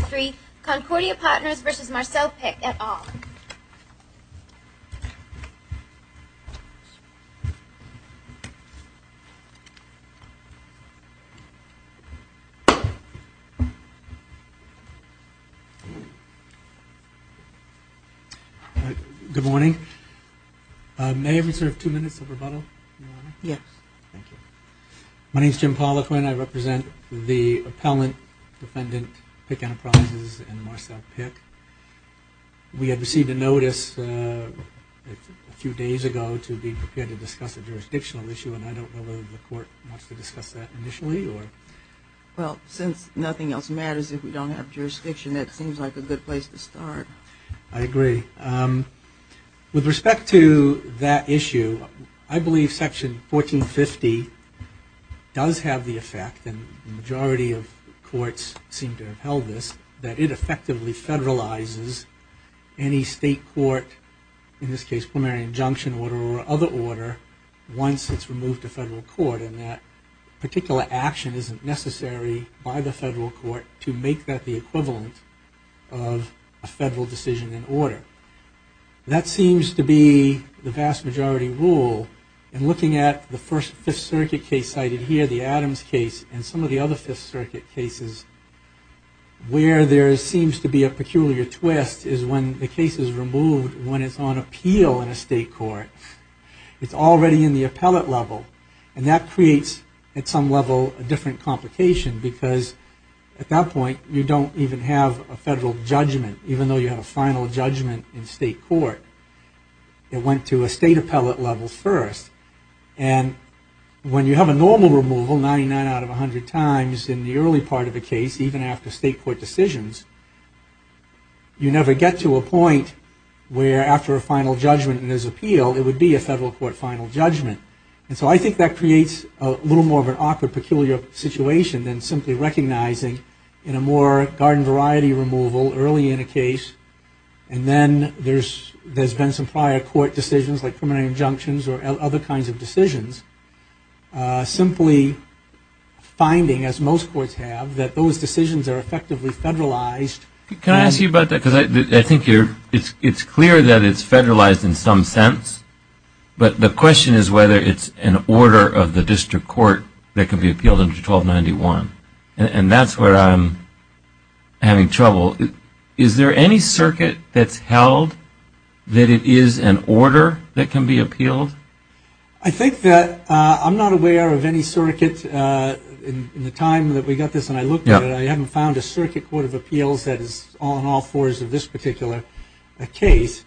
3, Concordia Partners v. Marcel Pick, et al. Good morning. May I reserve two minutes of rebuttal? Yes. My name's Jim Poliquin. I represent the appellant, defendant, Pick, and I'm the attorney for the Anna Promises and Marcel Pick. We had received a notice a few days ago to be prepared to discuss a jurisdictional issue and I don't know whether the court wants to discuss that initially or... Well, since nothing else matters if we don't have jurisdiction, it seems like a good place to start. I agree. With respect to that issue, I believe section 1450 does have the effect, and the majority of courts seem to have held this, that it effectively federalizes any state court, in this case, plenary injunction order or other order once it's removed to federal court and that particular action isn't necessary by the federal court to make that the equivalent of a federal decision in order. That seems to be the vast majority rule and looking at the first Fifth Circuit case cited here, the Adams case, and some of the Fifth Circuit cases, where there seems to be a peculiar twist is when the case is removed when it's on appeal in a state court. It's already in the appellate level and that creates at some level a different complication because at that point you don't even have a federal judgment even though you have a final judgment in state court. It went to a state appellate level first. And when you have a normal removal, 99 out of 100 times in the early part of the case, even after state court decisions, you never get to a point where after a final judgment and there's appeal, it would be a federal court final judgment. And so I think that creates a little more of an awkward, peculiar situation than simply recognizing in a more garden variety removal early in a case and then there's been some prior court decisions like plenary injunctions or other kinds of decisions, simply finding, as most courts have, that those decisions are effectively federalized. Can I ask you about that because I think it's clear that it's federalized in some sense, but the question is whether it's an order of the district court that can be appealed under 1291. And that's where I'm having trouble. Is there any circuit that's held that it is an order that can be appealed? I think that, I'm not aware of any circuit in the time that we got this and I looked at it, I haven't found a circuit court of appeals that is on all fours of this particular case.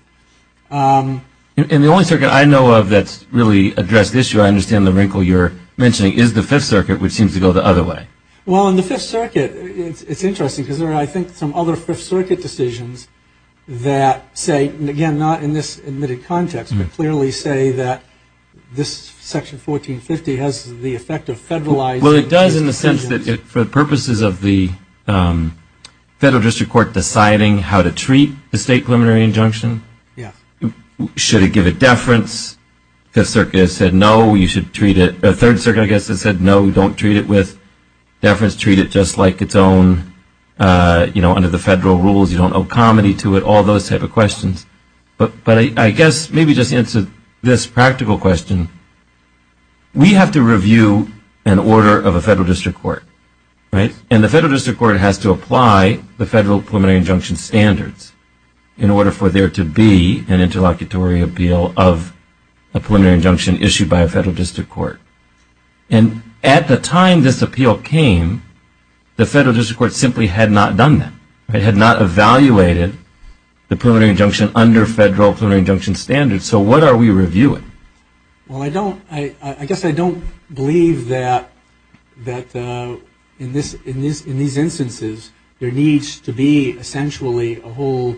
And the only circuit I know of that's really addressed the issue, I understand the wrinkle you're mentioning, is the Fifth Circuit, which seems to go the other way. Well, in the Fifth Circuit, it's interesting because there are, I think, some other Fifth Circuit decisions that say, again, not in this admitted context, but clearly say that this Section 1450 has the effect of federalizing. Well, it does in the sense that for purposes of the federal district court deciding how to treat the state preliminary injunction, should it give a deference? The Third Circuit, I guess, has said no, don't treat it with deference, treat it just like its own, you know, under the federal rules, you don't owe comedy to it, all those type of questions. But I guess, maybe just answer this practical question, we have to review an order of a federal district court. And the federal district court has to apply the federal preliminary injunction standards in order for there to be an interlocutory appeal of a preliminary injunction issued by a federal district court. And at the time this appeal came, the federal district court simply had not done that. It had not evaluated the preliminary injunction under federal preliminary injunction standards, so what are we reviewing? Well, I don't, I guess I don't believe that that in these instances there needs to be essentially a whole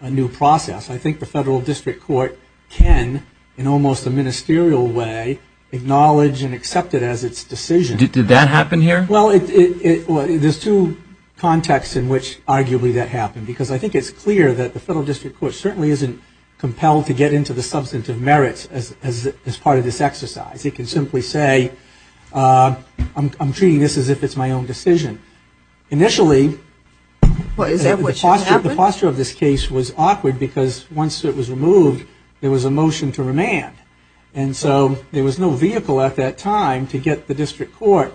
new process. I think the federal district court can, in almost a ministerial way, acknowledge and accept it as its decision. Did that happen here? Well, there's two contexts in which arguably that happened, because I think it's clear that the federal district court certainly isn't compelled to get into the substantive merits as part of this exercise. It can simply say I'm treating this as if it's my own decision. Initially, the posture of this case was awkward because once it was removed, there was a motion to remand. And so there was no vehicle at that time to get the district court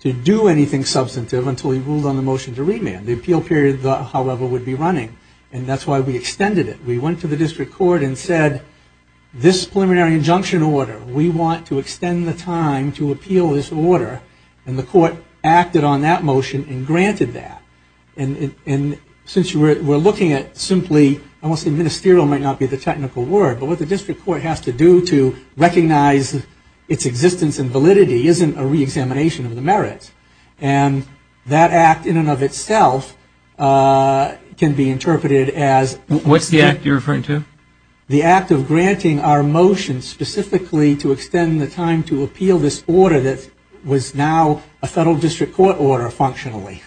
to do anything substantive until he ruled on the motion to remand. The appeal period, however, would be running. And that's why we extended it. We went to the district court and said, this preliminary injunction order, we want to extend the time to appeal this order. And the court acted on that motion and granted that. And since we're looking at simply, I won't say ministerial might not be the technical word, but what the district court has to do to recognize its existence and validity isn't a re-examination of the merits. And that act in and of itself can be interpreted as... What's the act you're referring to? The act of granting our motion specifically to extend the time to appeal this order that was now a federal district court order functionally.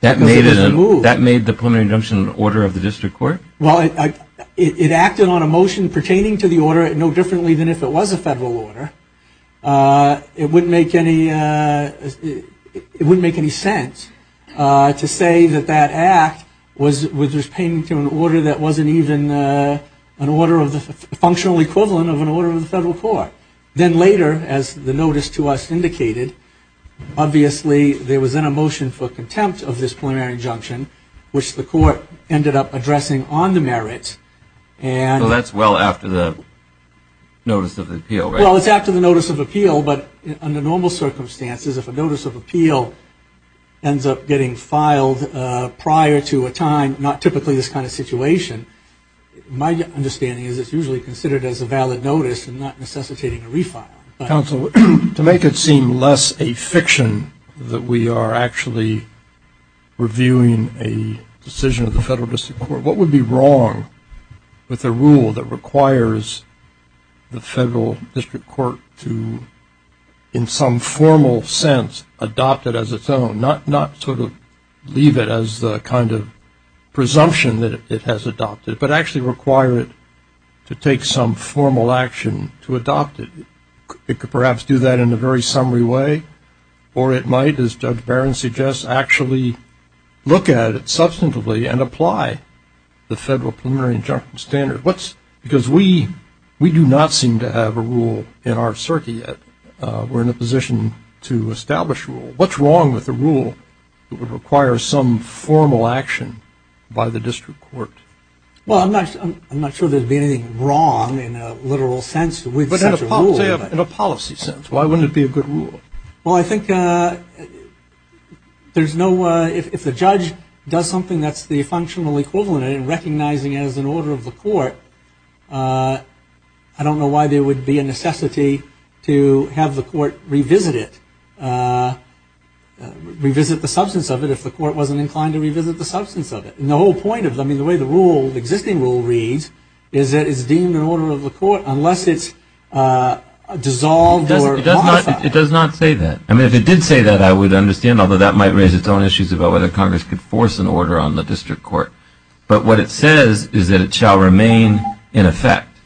That made the preliminary injunction order of the district court? Well, it acted on a motion pertaining to the order no differently than if it was a federal order. It wouldn't make any sense to say that that act was pertaining to an order that wasn't even an order of the functional equivalent of an order of the federal court. Then later, as the notice to us indicated, obviously there was then a motion for contempt of this preliminary injunction, which the court ended up addressing on the merits. So that's well after the notice of appeal, right? Well, it's after the notice of appeal, but under normal circumstances, if a notice of appeal ends up getting filed prior to a time, not typically this kind of situation, my understanding is it's usually considered as a valid notice and not necessitating a refile. Counsel, to make it seem less a fiction that we are actually reviewing a decision of the federal district court, what would be wrong with a rule that requires the federal district court to, in some formal sense, adopt it as its own, not sort of leave it as the kind of presumption that it has adopted, but actually require it to take some formal action to adopt it? It could perhaps do that in a very summary way, or it might, as Judge Barron suggests, actually look at it substantively and apply the federal preliminary injunction standard. Because we do not seem to have a rule in our circuit yet. We're in a position to establish a rule. What's wrong with a rule that would require some formal action by the district court? In a policy sense, why wouldn't it be a good rule? Well, I think there's no way, if the judge does something that's the functional equivalent in recognizing it as an order of the court, I don't know why there would be a necessity to have the court revisit it, uh... revisit the substance of it if the court wasn't inclined to revisit the substance of it. The whole point of it, I mean, the way the existing rule reads, is that it's deemed an order of the court unless it's dissolved or modified. It does not say that. I mean, if it did say that, I would understand, although that might raise its own issues about whether Congress could force an order on the district court. But what it says is that it shall remain in effect,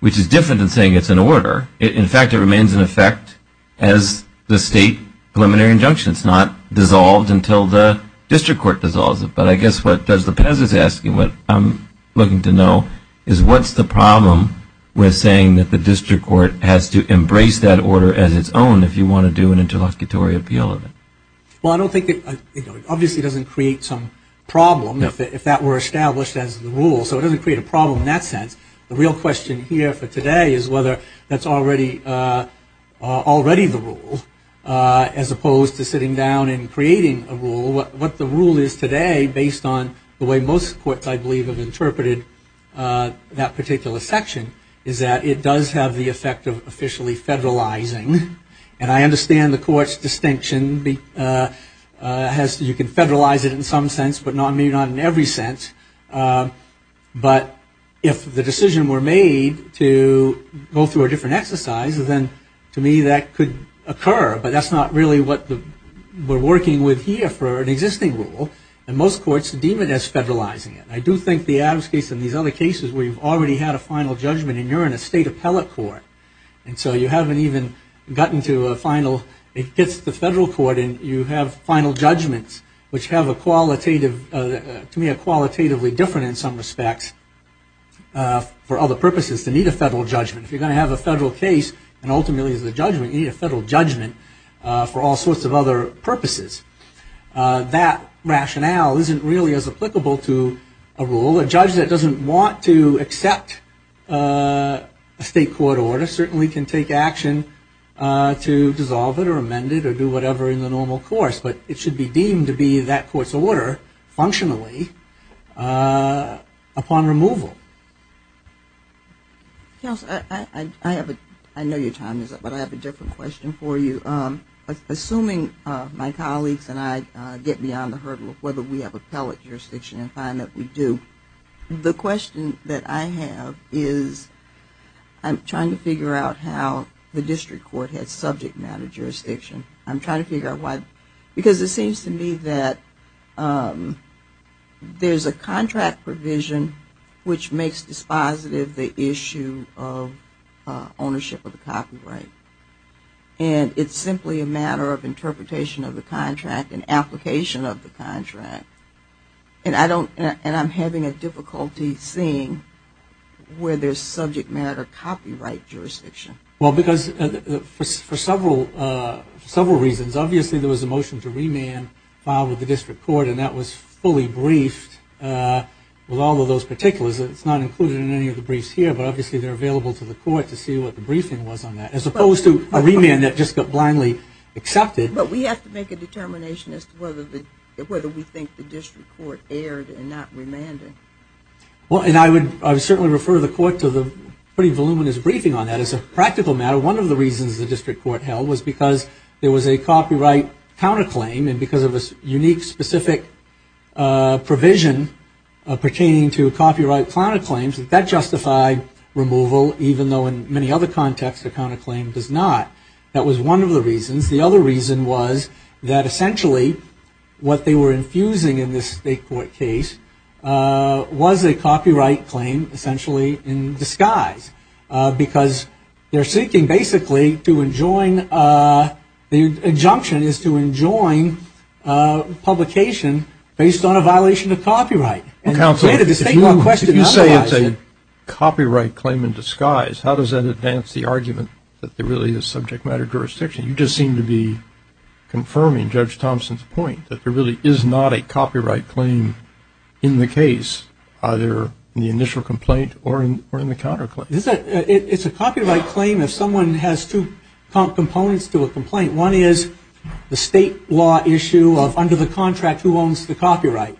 which is different than saying it's an order. In fact, it remains in effect as the state preliminary injunction. It's not dissolved until the district court dissolves it. But I guess what does the PES is asking, what I'm asking to know is what's the problem with saying that the district court has to embrace that order as its own if you want to do an interlocutory appeal of it? Well, I don't think that, you know, it obviously doesn't create some problem if that were established as the rule, so it doesn't create a problem in that sense. The real question here for today is whether that's already already the rule, uh... as opposed to sitting down and creating a rule. What the rule is today based on the way most courts, I believe, have interpreted that particular section is that it does have the effect of officially federalizing. And I understand the court's distinction. You can federalize it in some sense, but maybe not in every sense. But if the decision were made to go through a different exercise, then to me that could occur, but that's not really what we're working with here for an existing rule. And most courts deem it as federalizing it. I do think the Adams case and these other cases where you've already had a final judgment and you're in a state appellate court, and so you haven't even gotten to a final, it gets to the federal court and you have final judgments which have a qualitative, to me a qualitatively different in some respects for other purposes to meet a federal judgment. If you're going to have a federal case and ultimately it's a judgment, you need a federal judgment for all sorts of other purposes. That rationale isn't really as applicable to a rule. A judge that doesn't want to accept a state court order certainly can take action to dissolve it or amend it or do whatever in the normal course, but it should be deemed to be that court's order, functionally, upon removal. I know your time is up, but I have a different question for you. Assuming my colleagues and I get beyond the hurdle of whether we have appellate jurisdiction and find that we do, the question that I have is I'm trying to figure out how the district court has subject matter jurisdiction. I'm trying to figure out why, because it seems to me that there's a contract provision which makes dispositive the issue of ownership of the copyright. And it's simply a matter of interpretation of the contract and application of the contract. And I don't, and I'm having a difficulty seeing where there's subject matter copyright jurisdiction. Well, because for several reasons, obviously there was a motion to remand filed with the district court and that was fully briefed with all of those particulars. It's not included in any of the briefs here, but obviously they're available to the court to see what the briefing was on that. As opposed to a remand that just got blindly accepted. But we have to make a determination as to whether we think the district court erred and not remanded. Well, and I would certainly refer the court to the pretty voluminous briefing on that as a practical matter. One of the reasons the district court held was because there was a copyright counterclaim and because of a unique specific provision pertaining to copyright counterclaims, that that justified removal, even though in many other contexts a counterclaim does not. That was one of the reasons. The other reason was that essentially what they were infusing in this state court case was a copyright claim essentially in disguise. Because they're seeking basically to enjoin, the injunction is to enjoin publication based on a violation of copyright. Counsel, if you say it's a copyright claim in disguise, how does that advance the argument that there really is subject matter jurisdiction? You just seem to be confirming Judge Thompson's point that there really is not a copyright claim in the case, either in the initial complaint or in the counterclaim. It's a copyright claim if someone has two components to a complaint. One is the state law issue of under the contract who owns the copyright.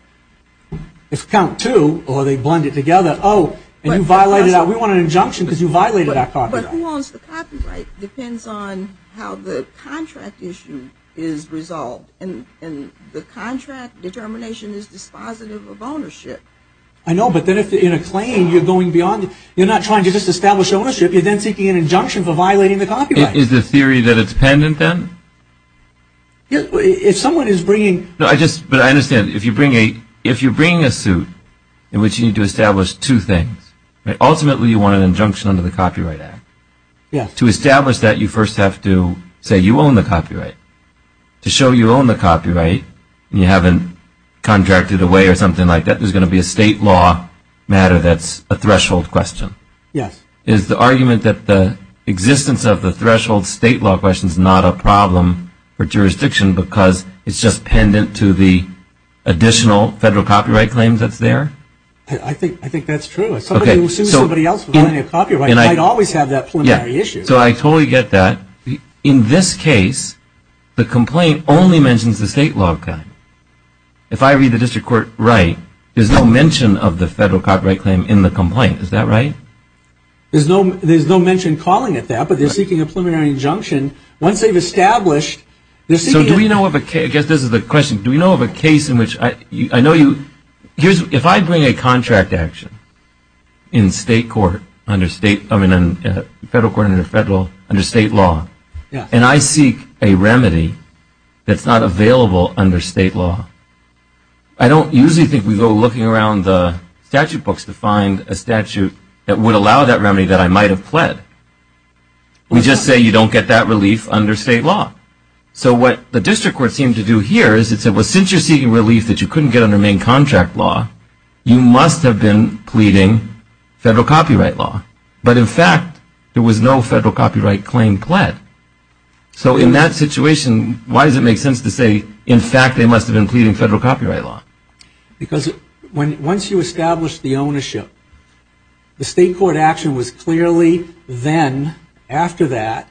If count two, or they blend it together, oh, and you violated that, we want an injunction because you violated that copyright. But who owns the copyright depends on how the contract issue is resolved. And the contract determination is dispositive of ownership. I know, but then if in a claim you're going beyond, you're not trying to just establish ownership, you're then seeking an injunction for violating the copyright. Is the theory that it's pen and pen? If someone is bringing... No, I just, but I understand, if you bring a, if you bring a suit in which you need to establish two things, ultimately you want an injunction under the Copyright Act. To establish that, you first have to say you own the copyright. To show you own the copyright, and you haven't contracted away or something like that, there's going to be a state law matter that's a threshold question. Is the argument that the threshold state law question is not a problem for jurisdiction because it's just pendant to the additional federal copyright claims that's there? I think, I think that's true. Somebody who sues somebody else for violating a copyright might always have that preliminary issue. So I totally get that. In this case, the complaint only mentions the state law kind. If I read the district court right, there's no mention of the federal copyright claim in the complaint. Is that right? There's no mention calling it that, but they're seeking a preliminary injunction. Once they've established, they're seeking it. So do we know of a case, I guess this is the question, do we know of a case in which, I know you, here's, if I bring a contract action in state court, under state, I mean in federal court under state law, and I seek a remedy that's not available under state law, I don't usually think we go looking around the statute books to find a statute that would allow that remedy that I might have pled. We just say you don't get that relief under state law. So what the district court seemed to do here is it said, well, since you're seeking relief that you couldn't get under main contract law, you must have been pleading federal copyright law. But in fact, there was no federal copyright claim pled. So in that situation, why does it make sense to say, in fact, they must have been pleading federal copyright law? Because once you establish the ownership, the state court action was clearly then, after that,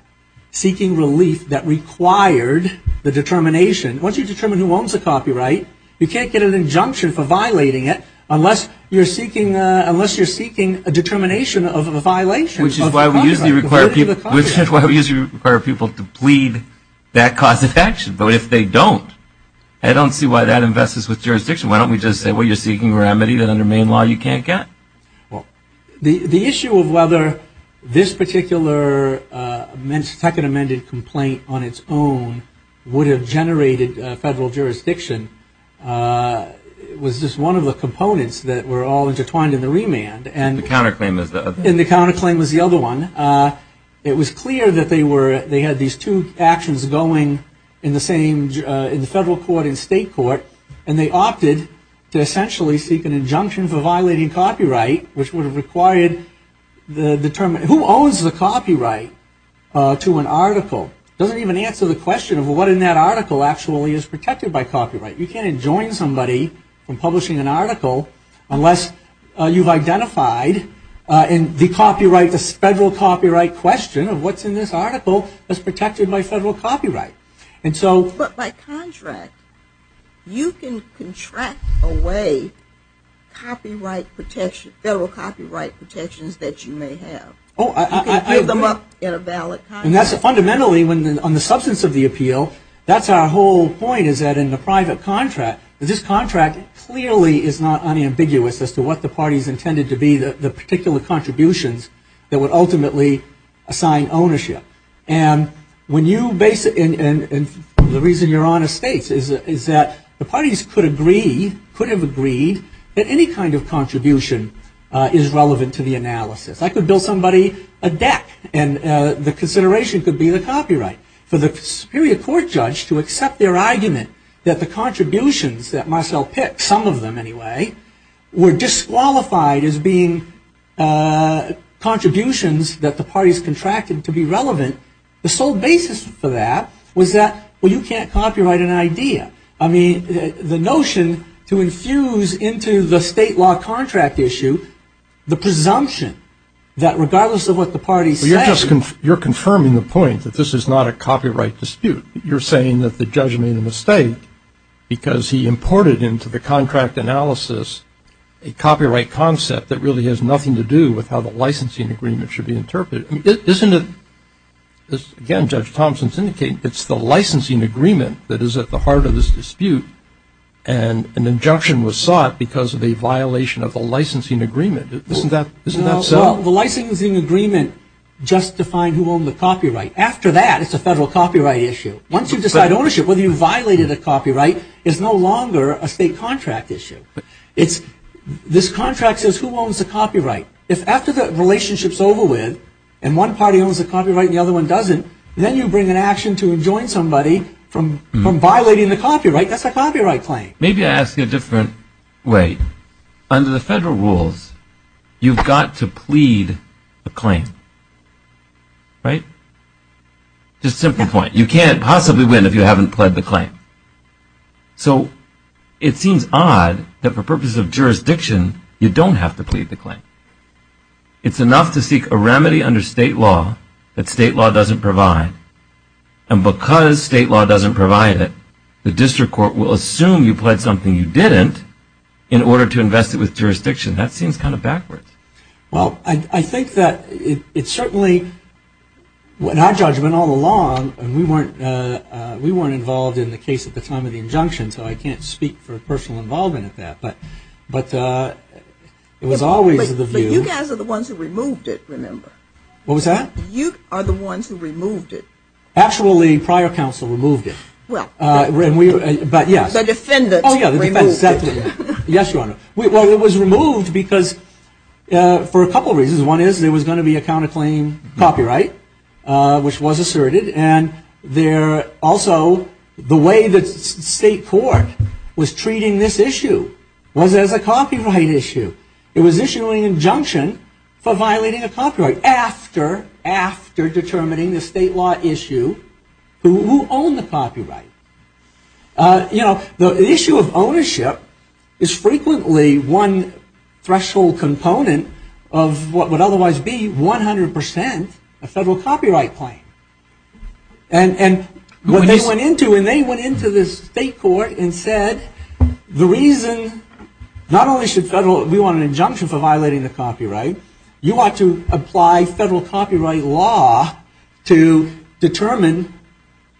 seeking relief that required the determination, once you determine who owns the copyright, you can't get an injunction for violating it unless you're seeking, unless you're seeking a determination of a violation of the copyright. Which is why we usually require people to plead that cause of action. But if they don't, I don't see why that invests with jurisdiction. Why don't we just say, well, you're seeking remedy that under main law you can't get? The issue of whether this particular second amended complaint on its own would have generated federal jurisdiction was just one of the components that were all intertwined in the remand. And the counterclaim was the other one. It was clear that they were, they had these two actions going in the same, in the federal court and state court and they opted to essentially seek an injunction for violating copyright which would have required the determination, who owns the copyright to an article? Doesn't even answer the question of what in that article actually is protected by copyright. You can't enjoin somebody from publishing an article unless you've identified in the copyright, the federal copyright question of what's in this article is protected by federal copyright. And so. But by contract, you can contract away copyright protection, federal copyright protections that you may have. Oh, I agree. You can give them up in a valid contract. And that's fundamentally, on the substance of the appeal, that's our whole point is that in the private contract, this contract clearly is not unambiguous as to what the party's intended to be, the particular contributions that would ultimately assign ownership. And when you basically, and the reason Your Honor states is that the parties could agree, could have agreed that any kind of contribution is relevant to the analysis. I could bill somebody a deck and the consideration could be the copyright. For the superior court judge to accept their argument that the contributions that Marcel picked, some of them anyway, were disqualified as being contributions that the parties contracted to be relevant, the sole basis for that was that, well, you can't copyright an idea. I mean, the notion to infuse into the state law contract issue the presumption that regardless of what the party says. You're just confirming the point that this is not a copyright dispute. You're saying that the judge made a mistake because he imported into the contract analysis a copyright concept that really has nothing to do with how the licensing agreement should be interpreted. Isn't it, as again, Judge Thompson's indicating, it's the licensing agreement that is at the heart of this dispute and an injunction was sought because of a violation of the licensing agreement. Isn't that so? The licensing agreement justifying who owned the copyright. After that, it's a federal copyright issue. Once you decide ownership, whether you violated a copyright is no longer a state contract issue. It's, this contract says who owns the copyright. If after the relationship's over with and one party owns the copyright and the other one doesn't, then you bring an action to enjoin somebody from violating the copyright. That's a copyright claim. Maybe I ask it a different way. Under the federal rules, you've got to plead the claim. Just a simple point. You can't possibly win if you haven't plead the claim. So it seems odd that for purposes of jurisdiction, you don't have to plead the claim. It's enough to seek a remedy under state law that state law doesn't provide. And because state law doesn't provide it, the district court will assume you pledged something you didn't in order to invest it with jurisdiction. That seems kind of backwards. Well, I think that it's certainly, in our judgment all along, and we weren't involved in the case at the time of the injunction, so I can't speak for personal involvement at that, but it was always the view. But you guys are the ones who removed it, remember. What was that? You are the ones who removed it. Actually, prior counsel removed it. Well, the defendants removed it. Yes, Your Honor. Well, it was removed because for a couple of reasons. One is, there was going to be a counterclaim copyright, which was asserted. And also, the way the state court was treating this issue was as a copyright issue. It was issuing an injunction for violating a copyright after determining the state law issue. Who owned the copyright? You know, the issue of ownership is frequently one threshold component of what would otherwise be 100% a federal copyright claim. And what they went into, and they went into the state court and said, the reason, not only should federal, we want an injunction for violating the copyright, you ought to apply federal copyright law to determine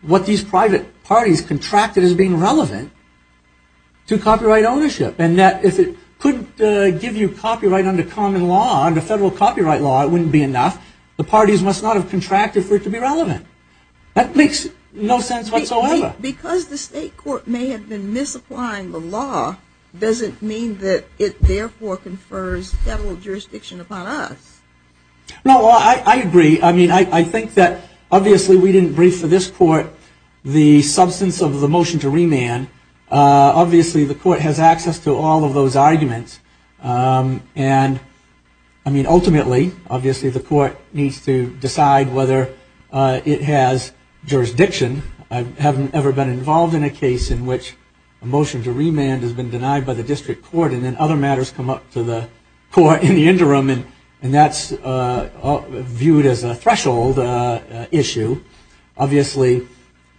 what these private parties contracted as being relevant to copyright ownership. And that if it couldn't give you copyright under common law, under federal copyright law, it wouldn't be enough. The parties must not have contracted for it to be relevant. That makes no sense whatsoever. Because the state court may have been misapplying the law, doesn't mean that it therefore confers federal jurisdiction upon us. No, I agree. I mean, I think that obviously we didn't brief for this court the substance of the motion to remand. Obviously, the court has access to all of those arguments. And I mean, ultimately, obviously the court needs to decide whether it has jurisdiction. I haven't ever been involved in a case in which a motion to remand has been denied by the district court, and then other matters come up to the court in the interim. And that's viewed as a threshold issue. Obviously,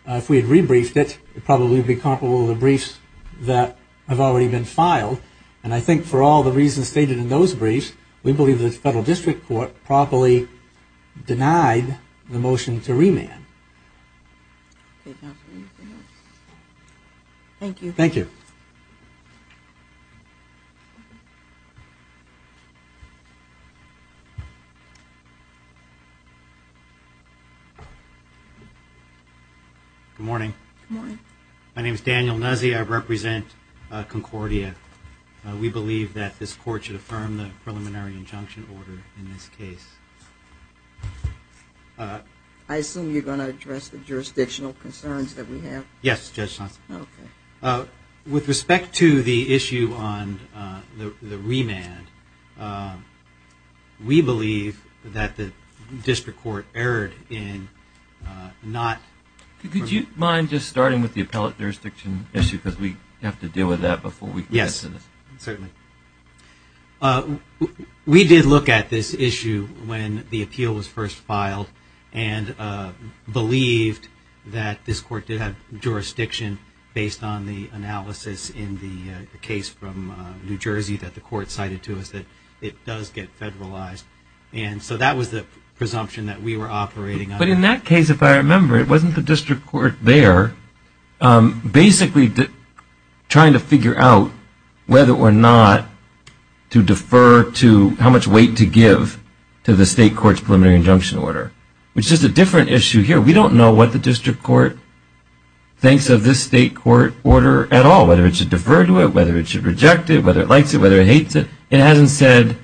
if we had rebriefed it, it probably would be comparable to the briefs that have already been filed. And I think for all the reasons stated in those briefs, we believe the federal district court properly denied the motion to remand. Thank you. Thank you. Good morning. Good morning. My name is Daniel Nuzzi. I represent Concordia. We believe that this court should affirm the preliminary injunction order in this case. I assume you're going to address the jurisdictional concerns that we have? Yes, Judge Thompson. Okay. With respect to the issue on the remand, we believe that the district court erred in not... Could you mind just starting with the appellate jurisdiction issue? Because we have to deal with that before we can get to this. Yes, certainly. We did look at this issue when the appeal was first filed and believed that this court did have jurisdiction based on the analysis in the case from New Jersey that the court cited to us that it does get federalized. And so that was the presumption that we were operating under. But in that case, if I remember, it wasn't the district court there basically trying to figure out whether or not to defer to how much weight to give to the state court's preliminary injunction order, which is a different issue here. We don't know what the district court thinks of this state court order at all, whether it should defer to it, whether it should reject it, whether it likes it, whether it hates it. It hasn't said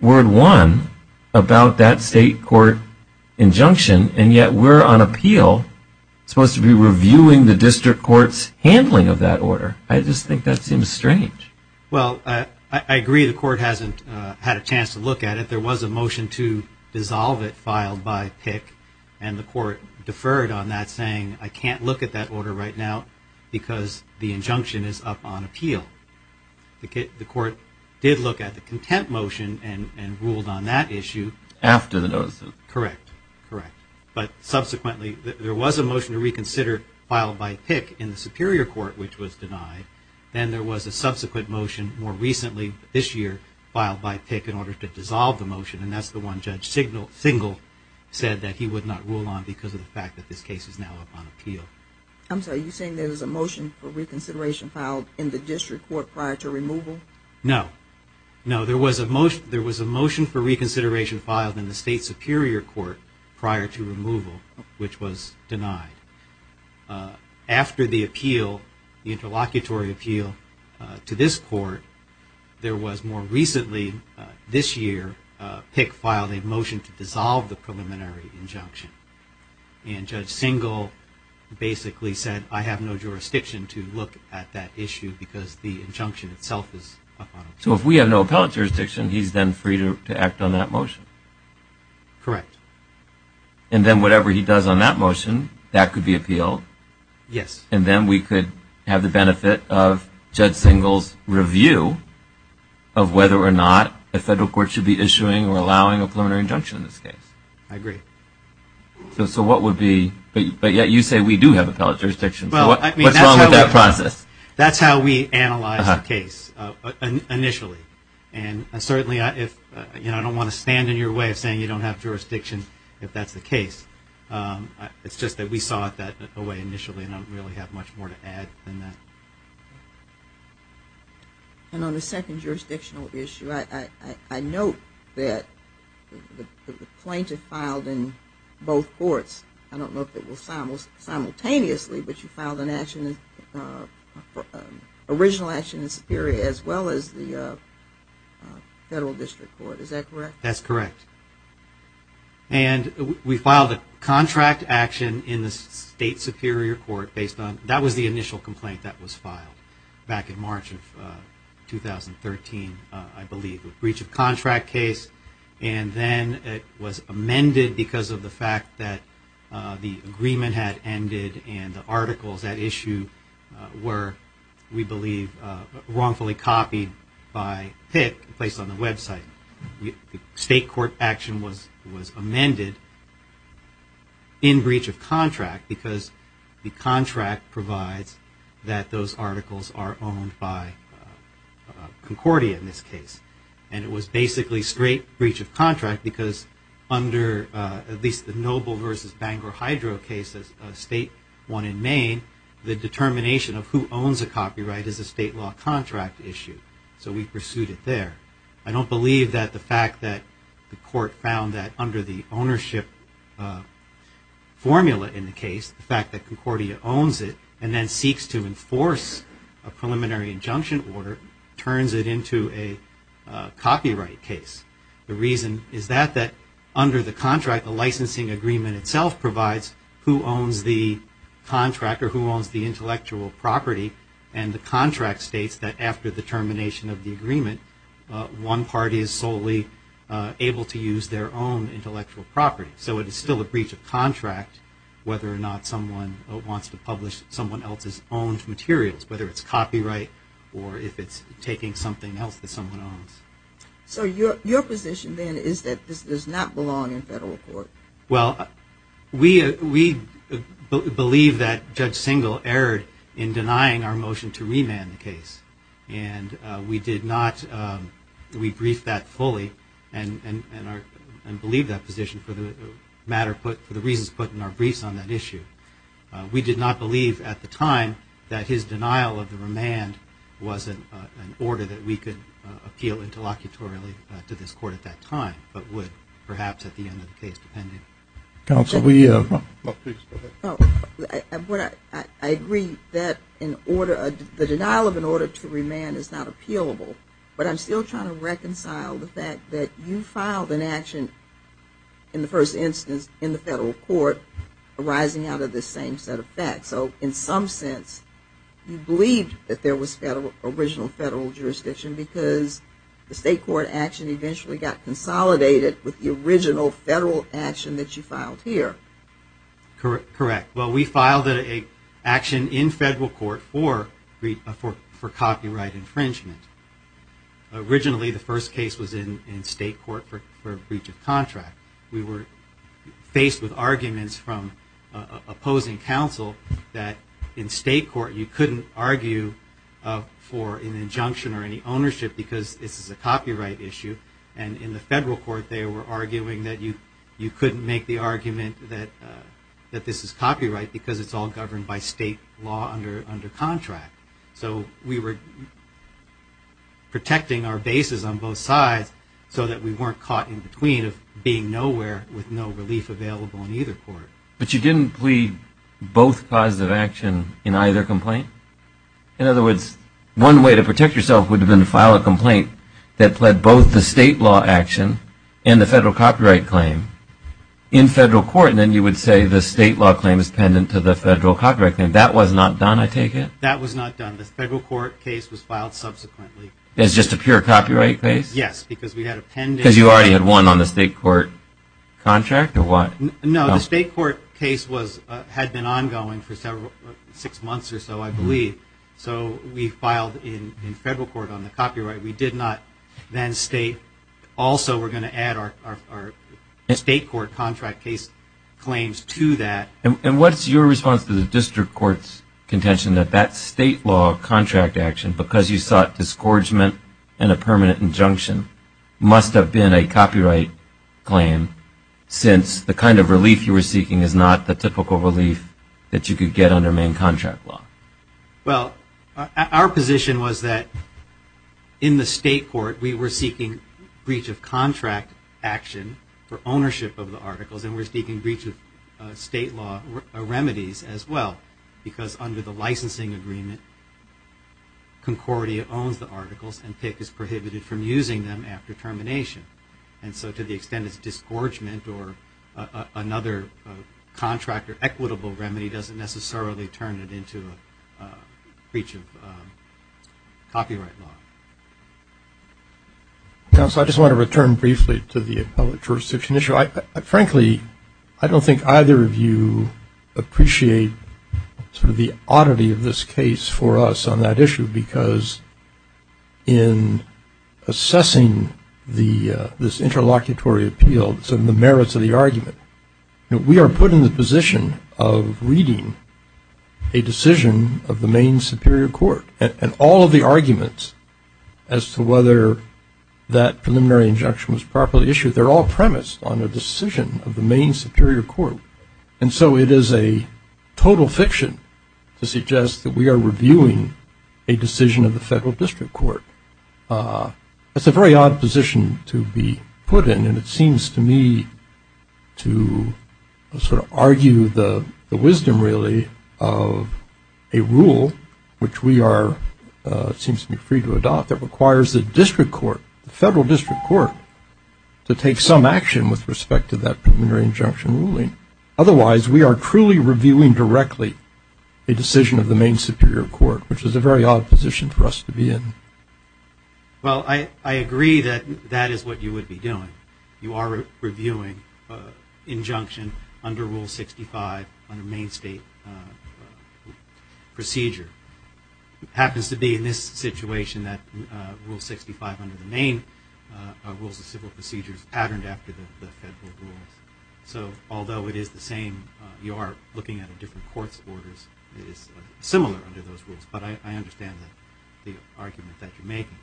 word one about that state court injunction, and yet we're on appeal supposed to be reviewing the district court's handling of that order. I just think that seems strange. Well, I agree the court hasn't had a chance to look at it. But there was a motion to dissolve it filed by Pick, and the court deferred on that saying I can't look at that order right now because the injunction is up on appeal. The court did look at the contempt motion and ruled on that issue. After the notice. Correct. Correct. But subsequently there was a motion to reconsider filed by Pick in the superior court, which was denied. Then there was a subsequent motion more recently this year filed by Pick in order to dissolve the motion, and that's the one Judge Singal said that he would not rule on because of the fact that this case is now up on appeal. I'm sorry. You're saying there was a motion for reconsideration filed in the district court prior to removal? No. No. There was a motion for reconsideration filed in the state superior court prior to removal, which was denied. After the appeal, the interlocutory appeal to this court, there was more recently this year Pick filed a motion to dissolve the preliminary injunction, and Judge Singal basically said I have no jurisdiction to look at that issue because the injunction itself is up on appeal. So if we have no appellate jurisdiction, he's then free to act on that motion? Correct. And then whatever he does on that motion, that could be appealed? Yes. And then we could have the benefit of Judge Singal's review of whether or not a federal court should be issuing or allowing a preliminary injunction in this case? I agree. So what would be – but yet you say we do have appellate jurisdiction. What's wrong with that process? That's how we analyzed the case initially. And certainly I don't want to stand in your way of saying you don't have jurisdiction if that's the case. It's just that we saw it that way initially, and I don't really have much more to add than that. And on the second jurisdictional issue, I note that the plaintiff filed in both courts. I don't know if it was simultaneously, but you filed an original action in Superior as well as the Federal District Court. Is that correct? That's correct. And we filed a contract action in the State Superior Court based on – that was the initial complaint that was filed back in March of 2013, I believe, a breach of contract case. And then it was amended because of the fact that the agreement had ended and the articles at issue were, we believe, wrongfully copied by Pitt and placed on the website. State court action was amended in breach of contract because the contract provides that those articles are owned by Concordia in this case. And it was basically straight breach of contract because under at least the Noble versus Bangor Hydro case, a state one in Maine, the determination of who owns a copyright is a state law contract issue. So we pursued it there. I don't believe that the fact that the court found that under the ownership formula in the case, the fact that Concordia owns it and then seeks to enforce a preliminary injunction order turns it into a copyright case. The reason is that under the contract, the licensing agreement itself provides who owns the contract or who owns the intellectual property, and the contract states that after the termination of the agreement, one party is solely able to use their own intellectual property. So it is still a breach of contract whether or not someone wants to publish someone else's owned materials, whether it's copyright or if it's taking something else that someone owns. So your position then is that this does not belong in federal court? Well, we believe that Judge Singal erred in denying our motion to remand the case. And we did not rebrief that fully and believe that position for the reasons put in our briefs on that issue. We did not believe at the time that his denial of the remand was an order that we could appeal interlocutorily to this court at that time, but would perhaps at the end of the case depend on it. I agree that the denial of an order to remand is not appealable, but I'm still trying to reconcile the fact that you filed an action in the first instance in the federal court arising out of this same set of facts. So in some sense, you believed that there was original federal jurisdiction because the state court action eventually got consolidated with the original federal action that you filed here. Correct. Well, we filed an action in federal court for copyright infringement. Originally, the first case was in state court for a breach of contract. We were faced with arguments from opposing counsel that in state court, you couldn't argue for an injunction or any ownership because this is a copyright issue. And in the federal court, they were arguing that you couldn't make the argument that this is copyright because it's all governed by state law under contract. So we were protecting our bases on both sides so that we weren't caught in between of being nowhere with no relief available in either court. But you didn't plead both causes of action in either complaint? In other words, one way to protect yourself would have been to file a complaint that pled both the state law action and the federal copyright claim in federal court, and then you would say the state law claim is pendant to the federal copyright claim. That was not done, I take it? That was not done. The federal court case was filed subsequently. It was just a pure copyright case? Yes, because we had a pendant. Because you already had one on the state court contract or what? No, the state court case had been ongoing for six months or so, I believe. So we filed in federal court on the copyright. We did not then state. Also, we're going to add our state court contract case claims to that. And what's your response to the district court's contention that that state law contract action, because you sought disgorgement and a permanent injunction, must have been a copyright claim since the kind of relief you were seeking is not the typical relief that you could get under main contract law? Well, our position was that in the state court we were seeking breach of contract action for ownership of the articles and we were seeking breach of state law remedies as well because under the licensing agreement, Concordia owns the articles and PICC is prohibited from using them after termination. And so to the extent it's disgorgement or another contract or equitable remedy doesn't necessarily turn it into a breach of copyright law. Counsel, I just want to return briefly to the appellate jurisdiction issue. Frankly, I don't think either of you appreciate sort of the oddity of this case for us on that issue because in assessing this interlocutory appeal and the merits of the argument, we are put in the position of reading a decision of the main superior court. And all of the arguments as to whether that preliminary injunction was properly issued, they're all premised on a decision of the main superior court. And so it is a total fiction to suggest that we are reviewing a decision of the federal district court. That's a very odd position to be put in, and it seems to me to sort of argue the wisdom really of a rule which we are, it seems to me, free to adopt, that requires the district court, the federal district court, to take some action with respect to that preliminary injunction ruling. Otherwise, we are truly reviewing directly a decision of the main superior court, which is a very odd position for us to be in. Well, I agree that that is what you would be doing. You are reviewing injunction under Rule 65 on a main state procedure. It happens to be in this situation that Rule 65 under the main Rules of Civil Procedure is patterned after the federal rules. So although it is the same, you are looking at a different court's orders, it is similar under those rules. But I understand the argument that you're making.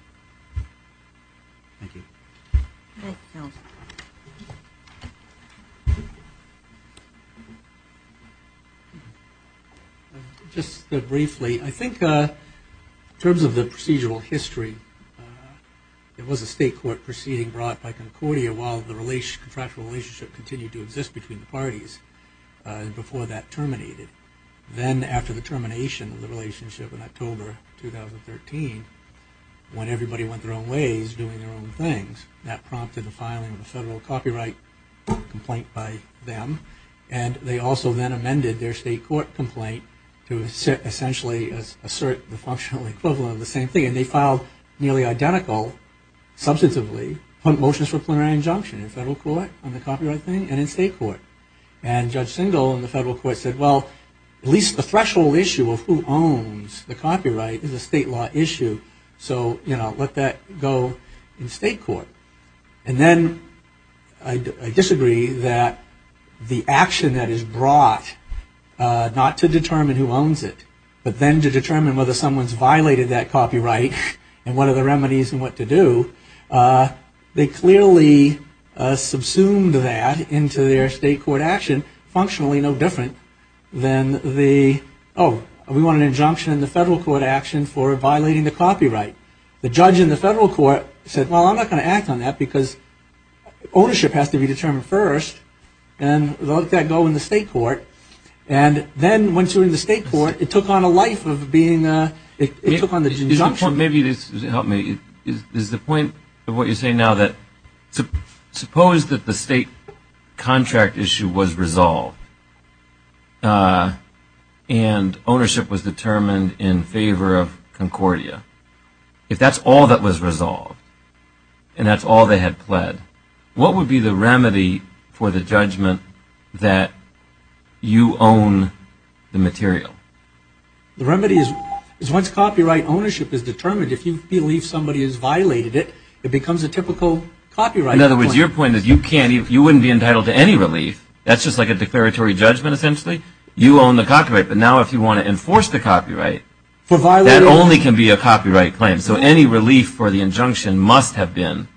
Thank you. Thank you. Just briefly, I think in terms of the procedural history, it was a state court proceeding brought by Concordia while the contractual relationship continued to exist between the parties before that terminated. Then after the termination of the relationship in October 2013, when everybody went their own ways doing their own things, that prompted the filing of a federal copyright complaint by them. And they also then amended their state court complaint to essentially assert the functional equivalent of the same thing. And they filed nearly identical, substantively, motions for preliminary injunction in federal court on the copyright thing and in state court. And Judge Singal in the federal court said, well, at least the threshold issue of who owns the copyright is a state law issue, so let that go in state court. And then I disagree that the action that is brought not to determine who owns it, but then to determine whether someone's violated that copyright and what are the remedies and what to do, they clearly subsumed that into their state court action, which is functionally no different than the, oh, we want an injunction in the federal court action for violating the copyright. The judge in the federal court said, well, I'm not going to act on that because ownership has to be determined first, and let that go in the state court. And then once you're in the state court, it took on a life of being a – it took on the injunction. Maybe this will help me. Is the point of what you're saying now that suppose that the state contract issue was resolved and ownership was determined in favor of Concordia, if that's all that was resolved and that's all they had pled, what would be the remedy for the judgment that you own the material? The remedy is once copyright ownership is determined, if you believe somebody has violated it, it becomes a typical copyright claim. In other words, your point is you can't – you wouldn't be entitled to any relief. That's just like a declaratory judgment essentially. You own the copyright. But now if you want to enforce the copyright, that only can be a copyright claim. So any relief for the injunction must have been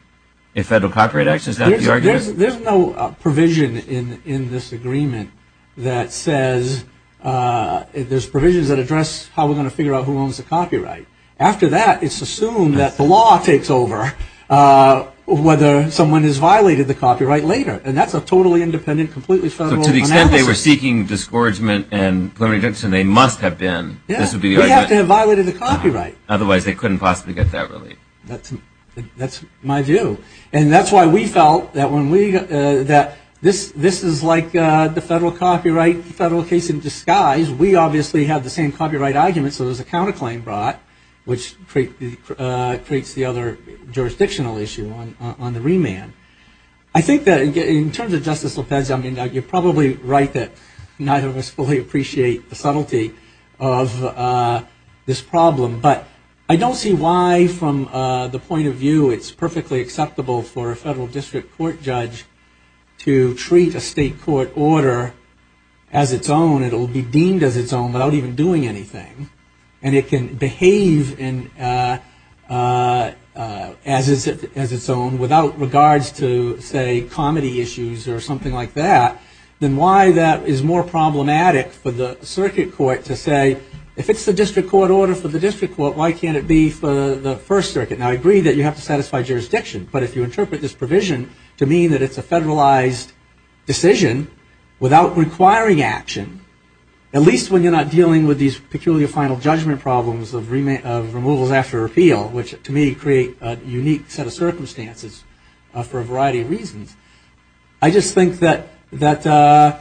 a federal copyright action. Is that the argument? There's no provision in this agreement that says – there's provisions that address how we're going to figure out who owns the copyright. After that, it's assumed that the law takes over whether someone has violated the copyright later. And that's a totally independent, completely federal analysis. So to the extent they were seeking discouragement and preliminary judgment, so they must have been, this would be the argument. We have to have violated the copyright. Otherwise they couldn't possibly get that relief. That's my view. And that's why we felt that when we – that this is like the federal copyright, federal case in disguise. We obviously have the same copyright argument, so there's a counterclaim brought, which creates the other jurisdictional issue on the remand. I think that in terms of Justice Lopez, I mean, you're probably right that neither of us fully appreciate the subtlety of this problem. But I don't see why from the point of view it's perfectly acceptable for a federal district court judge to treat a state court order as its own. It'll be deemed as its own without even doing anything. And it can behave as its own without regards to, say, comedy issues or something like that. Then why that is more problematic for the circuit court to say, if it's the district court order for the district court, why can't it be for the First Circuit? Now, I agree that you have to satisfy jurisdiction. But if you interpret this provision to mean that it's a federalized decision without requiring action, at least when you're not dealing with these peculiar final judgment problems of removals after appeal, which to me create a unique set of circumstances for a variety of reasons. I just think that that's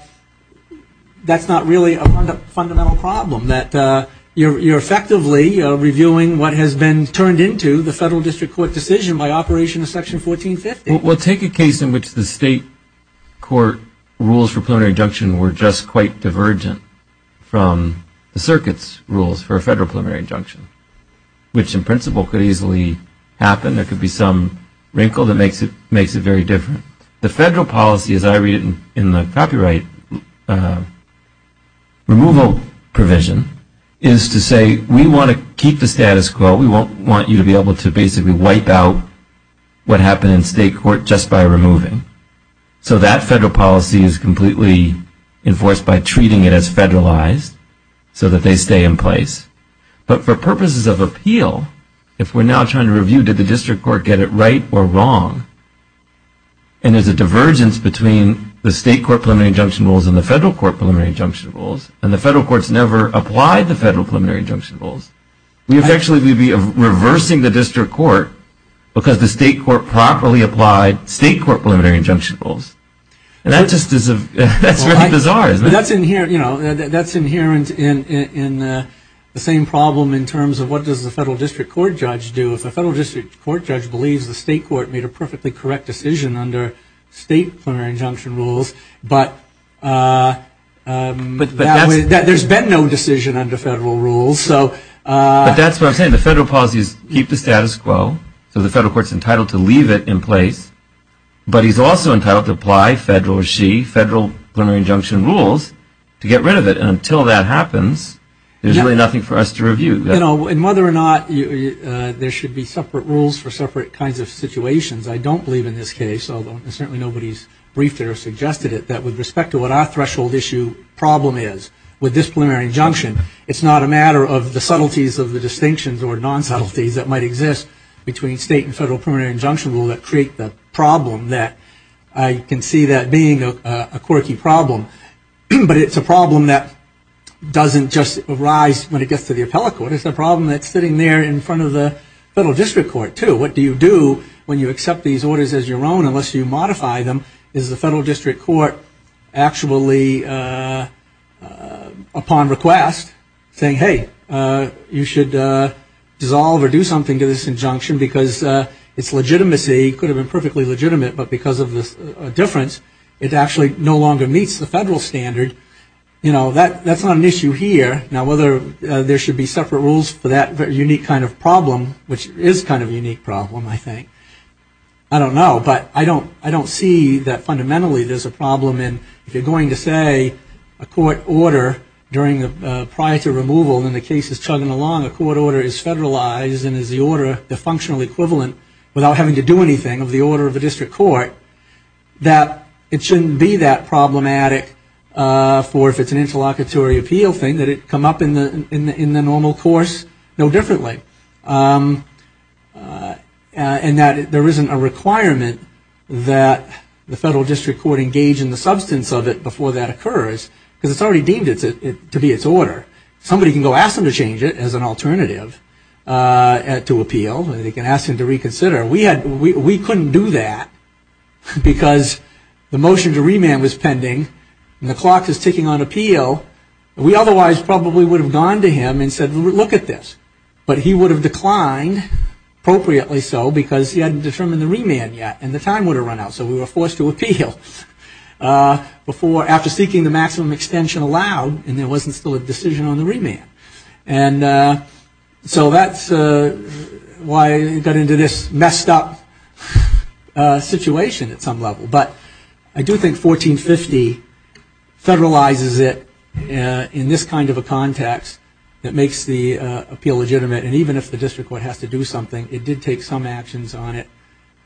not really a fundamental problem, that you're effectively reviewing what has been turned into the federal district court decision by operation of Section 1450. Well, take a case in which the state court rules for preliminary injunction were just quite divergent from the circuit's rules for a federal preliminary injunction, which in principle could easily happen. There could be some wrinkle that makes it very different. The federal policy, as I read it in the copyright removal provision, is to say, we want to keep the status quo. We want you to be able to basically wipe out what happened in state court just by removing. So that federal policy is completely enforced by treating it as federalized so that they stay in place. But for purposes of appeal, if we're now trying to review, did the district court get it right or wrong, and there's a divergence between the state court preliminary injunction rules and the federal court preliminary injunction rules, and the federal courts never applied the federal preliminary injunction rules, we would actually be reversing the district court because the state court properly applied state court preliminary injunction rules. That's inherent in the same problem in terms of what does the federal district court judge do. If a federal district court judge believes the state court made a perfectly correct decision under state preliminary injunction rules, but there's been no decision under federal rules. But that's what I'm saying. The federal policies keep the status quo, so the federal court's entitled to leave it in place, but he's also entitled to apply federal or she, federal preliminary injunction rules to get rid of it. And until that happens, there's really nothing for us to review. And whether or not there should be separate rules for separate kinds of situations, I don't believe in this case, although certainly nobody's briefed it or suggested it, that with respect to what our threshold issue problem is with this preliminary injunction, it's not a matter of the subtleties of the distinctions or nonsubtleties that might exist between state and federal preliminary injunction rule that create the problem that I can see that being a quirky problem. But it's a problem that doesn't just arise when it gets to the appellate court. It's a problem that's sitting there in front of the federal district court, too. What do you do when you accept these orders as your own unless you modify them? Is the federal district court actually, upon request, saying, hey, you should dissolve or do something to this injunction because its legitimacy could have been perfectly legitimate, but because of this difference, it actually no longer meets the federal standard. You know, that's not an issue here. Now, whether there should be separate rules for that unique kind of problem, which is kind of a unique problem, I think, I don't know, but I don't see that fundamentally there's a problem. And if you're going to say a court order prior to removal and the case is chugging along, a court order is federalized and is the order, the functional equivalent, without having to do anything, of the order of the district court, that it shouldn't be that problematic for if it's an interlocutory appeal thing, that it come up in the normal course no differently. And that there isn't a requirement that the federal district court engage in the substance of it before that occurs because it's already deemed to be its order. Somebody can go ask them to change it as an alternative to appeal. They can ask them to reconsider. We couldn't do that because the motion to remand was pending and the clock is ticking on appeal. We otherwise probably would have gone to him and said, look at this. But he would have declined, appropriately so, because he hadn't determined the remand yet and the time would have run out, so we were forced to appeal. After seeking the maximum extension allowed and there wasn't still a decision on the remand. And so that's why we got into this messed up situation at some level. But I do think 1450 federalizes it in this kind of a context that makes the appeal legitimate. And even if the district court has to do something, it did take some actions on it.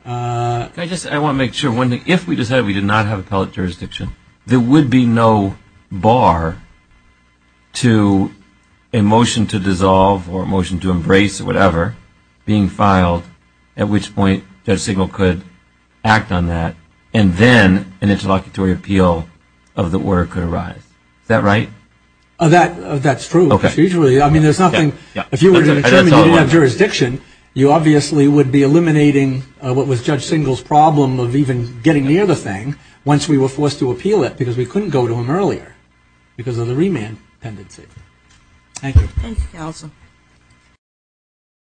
I want to make sure one thing. If we decided we did not have appellate jurisdiction, there would be no bar to a motion to dissolve or a motion to embrace or whatever being filed at which point Judge Signal could act on that and then an interlocutory appeal of the order could arise. Is that right? That's true. If you were to determine you didn't have jurisdiction, you obviously would be eliminating what was Judge Signal's problem of even getting near the thing once we were forced to appeal it because we couldn't go to him earlier because of the remand tendency. Thank you.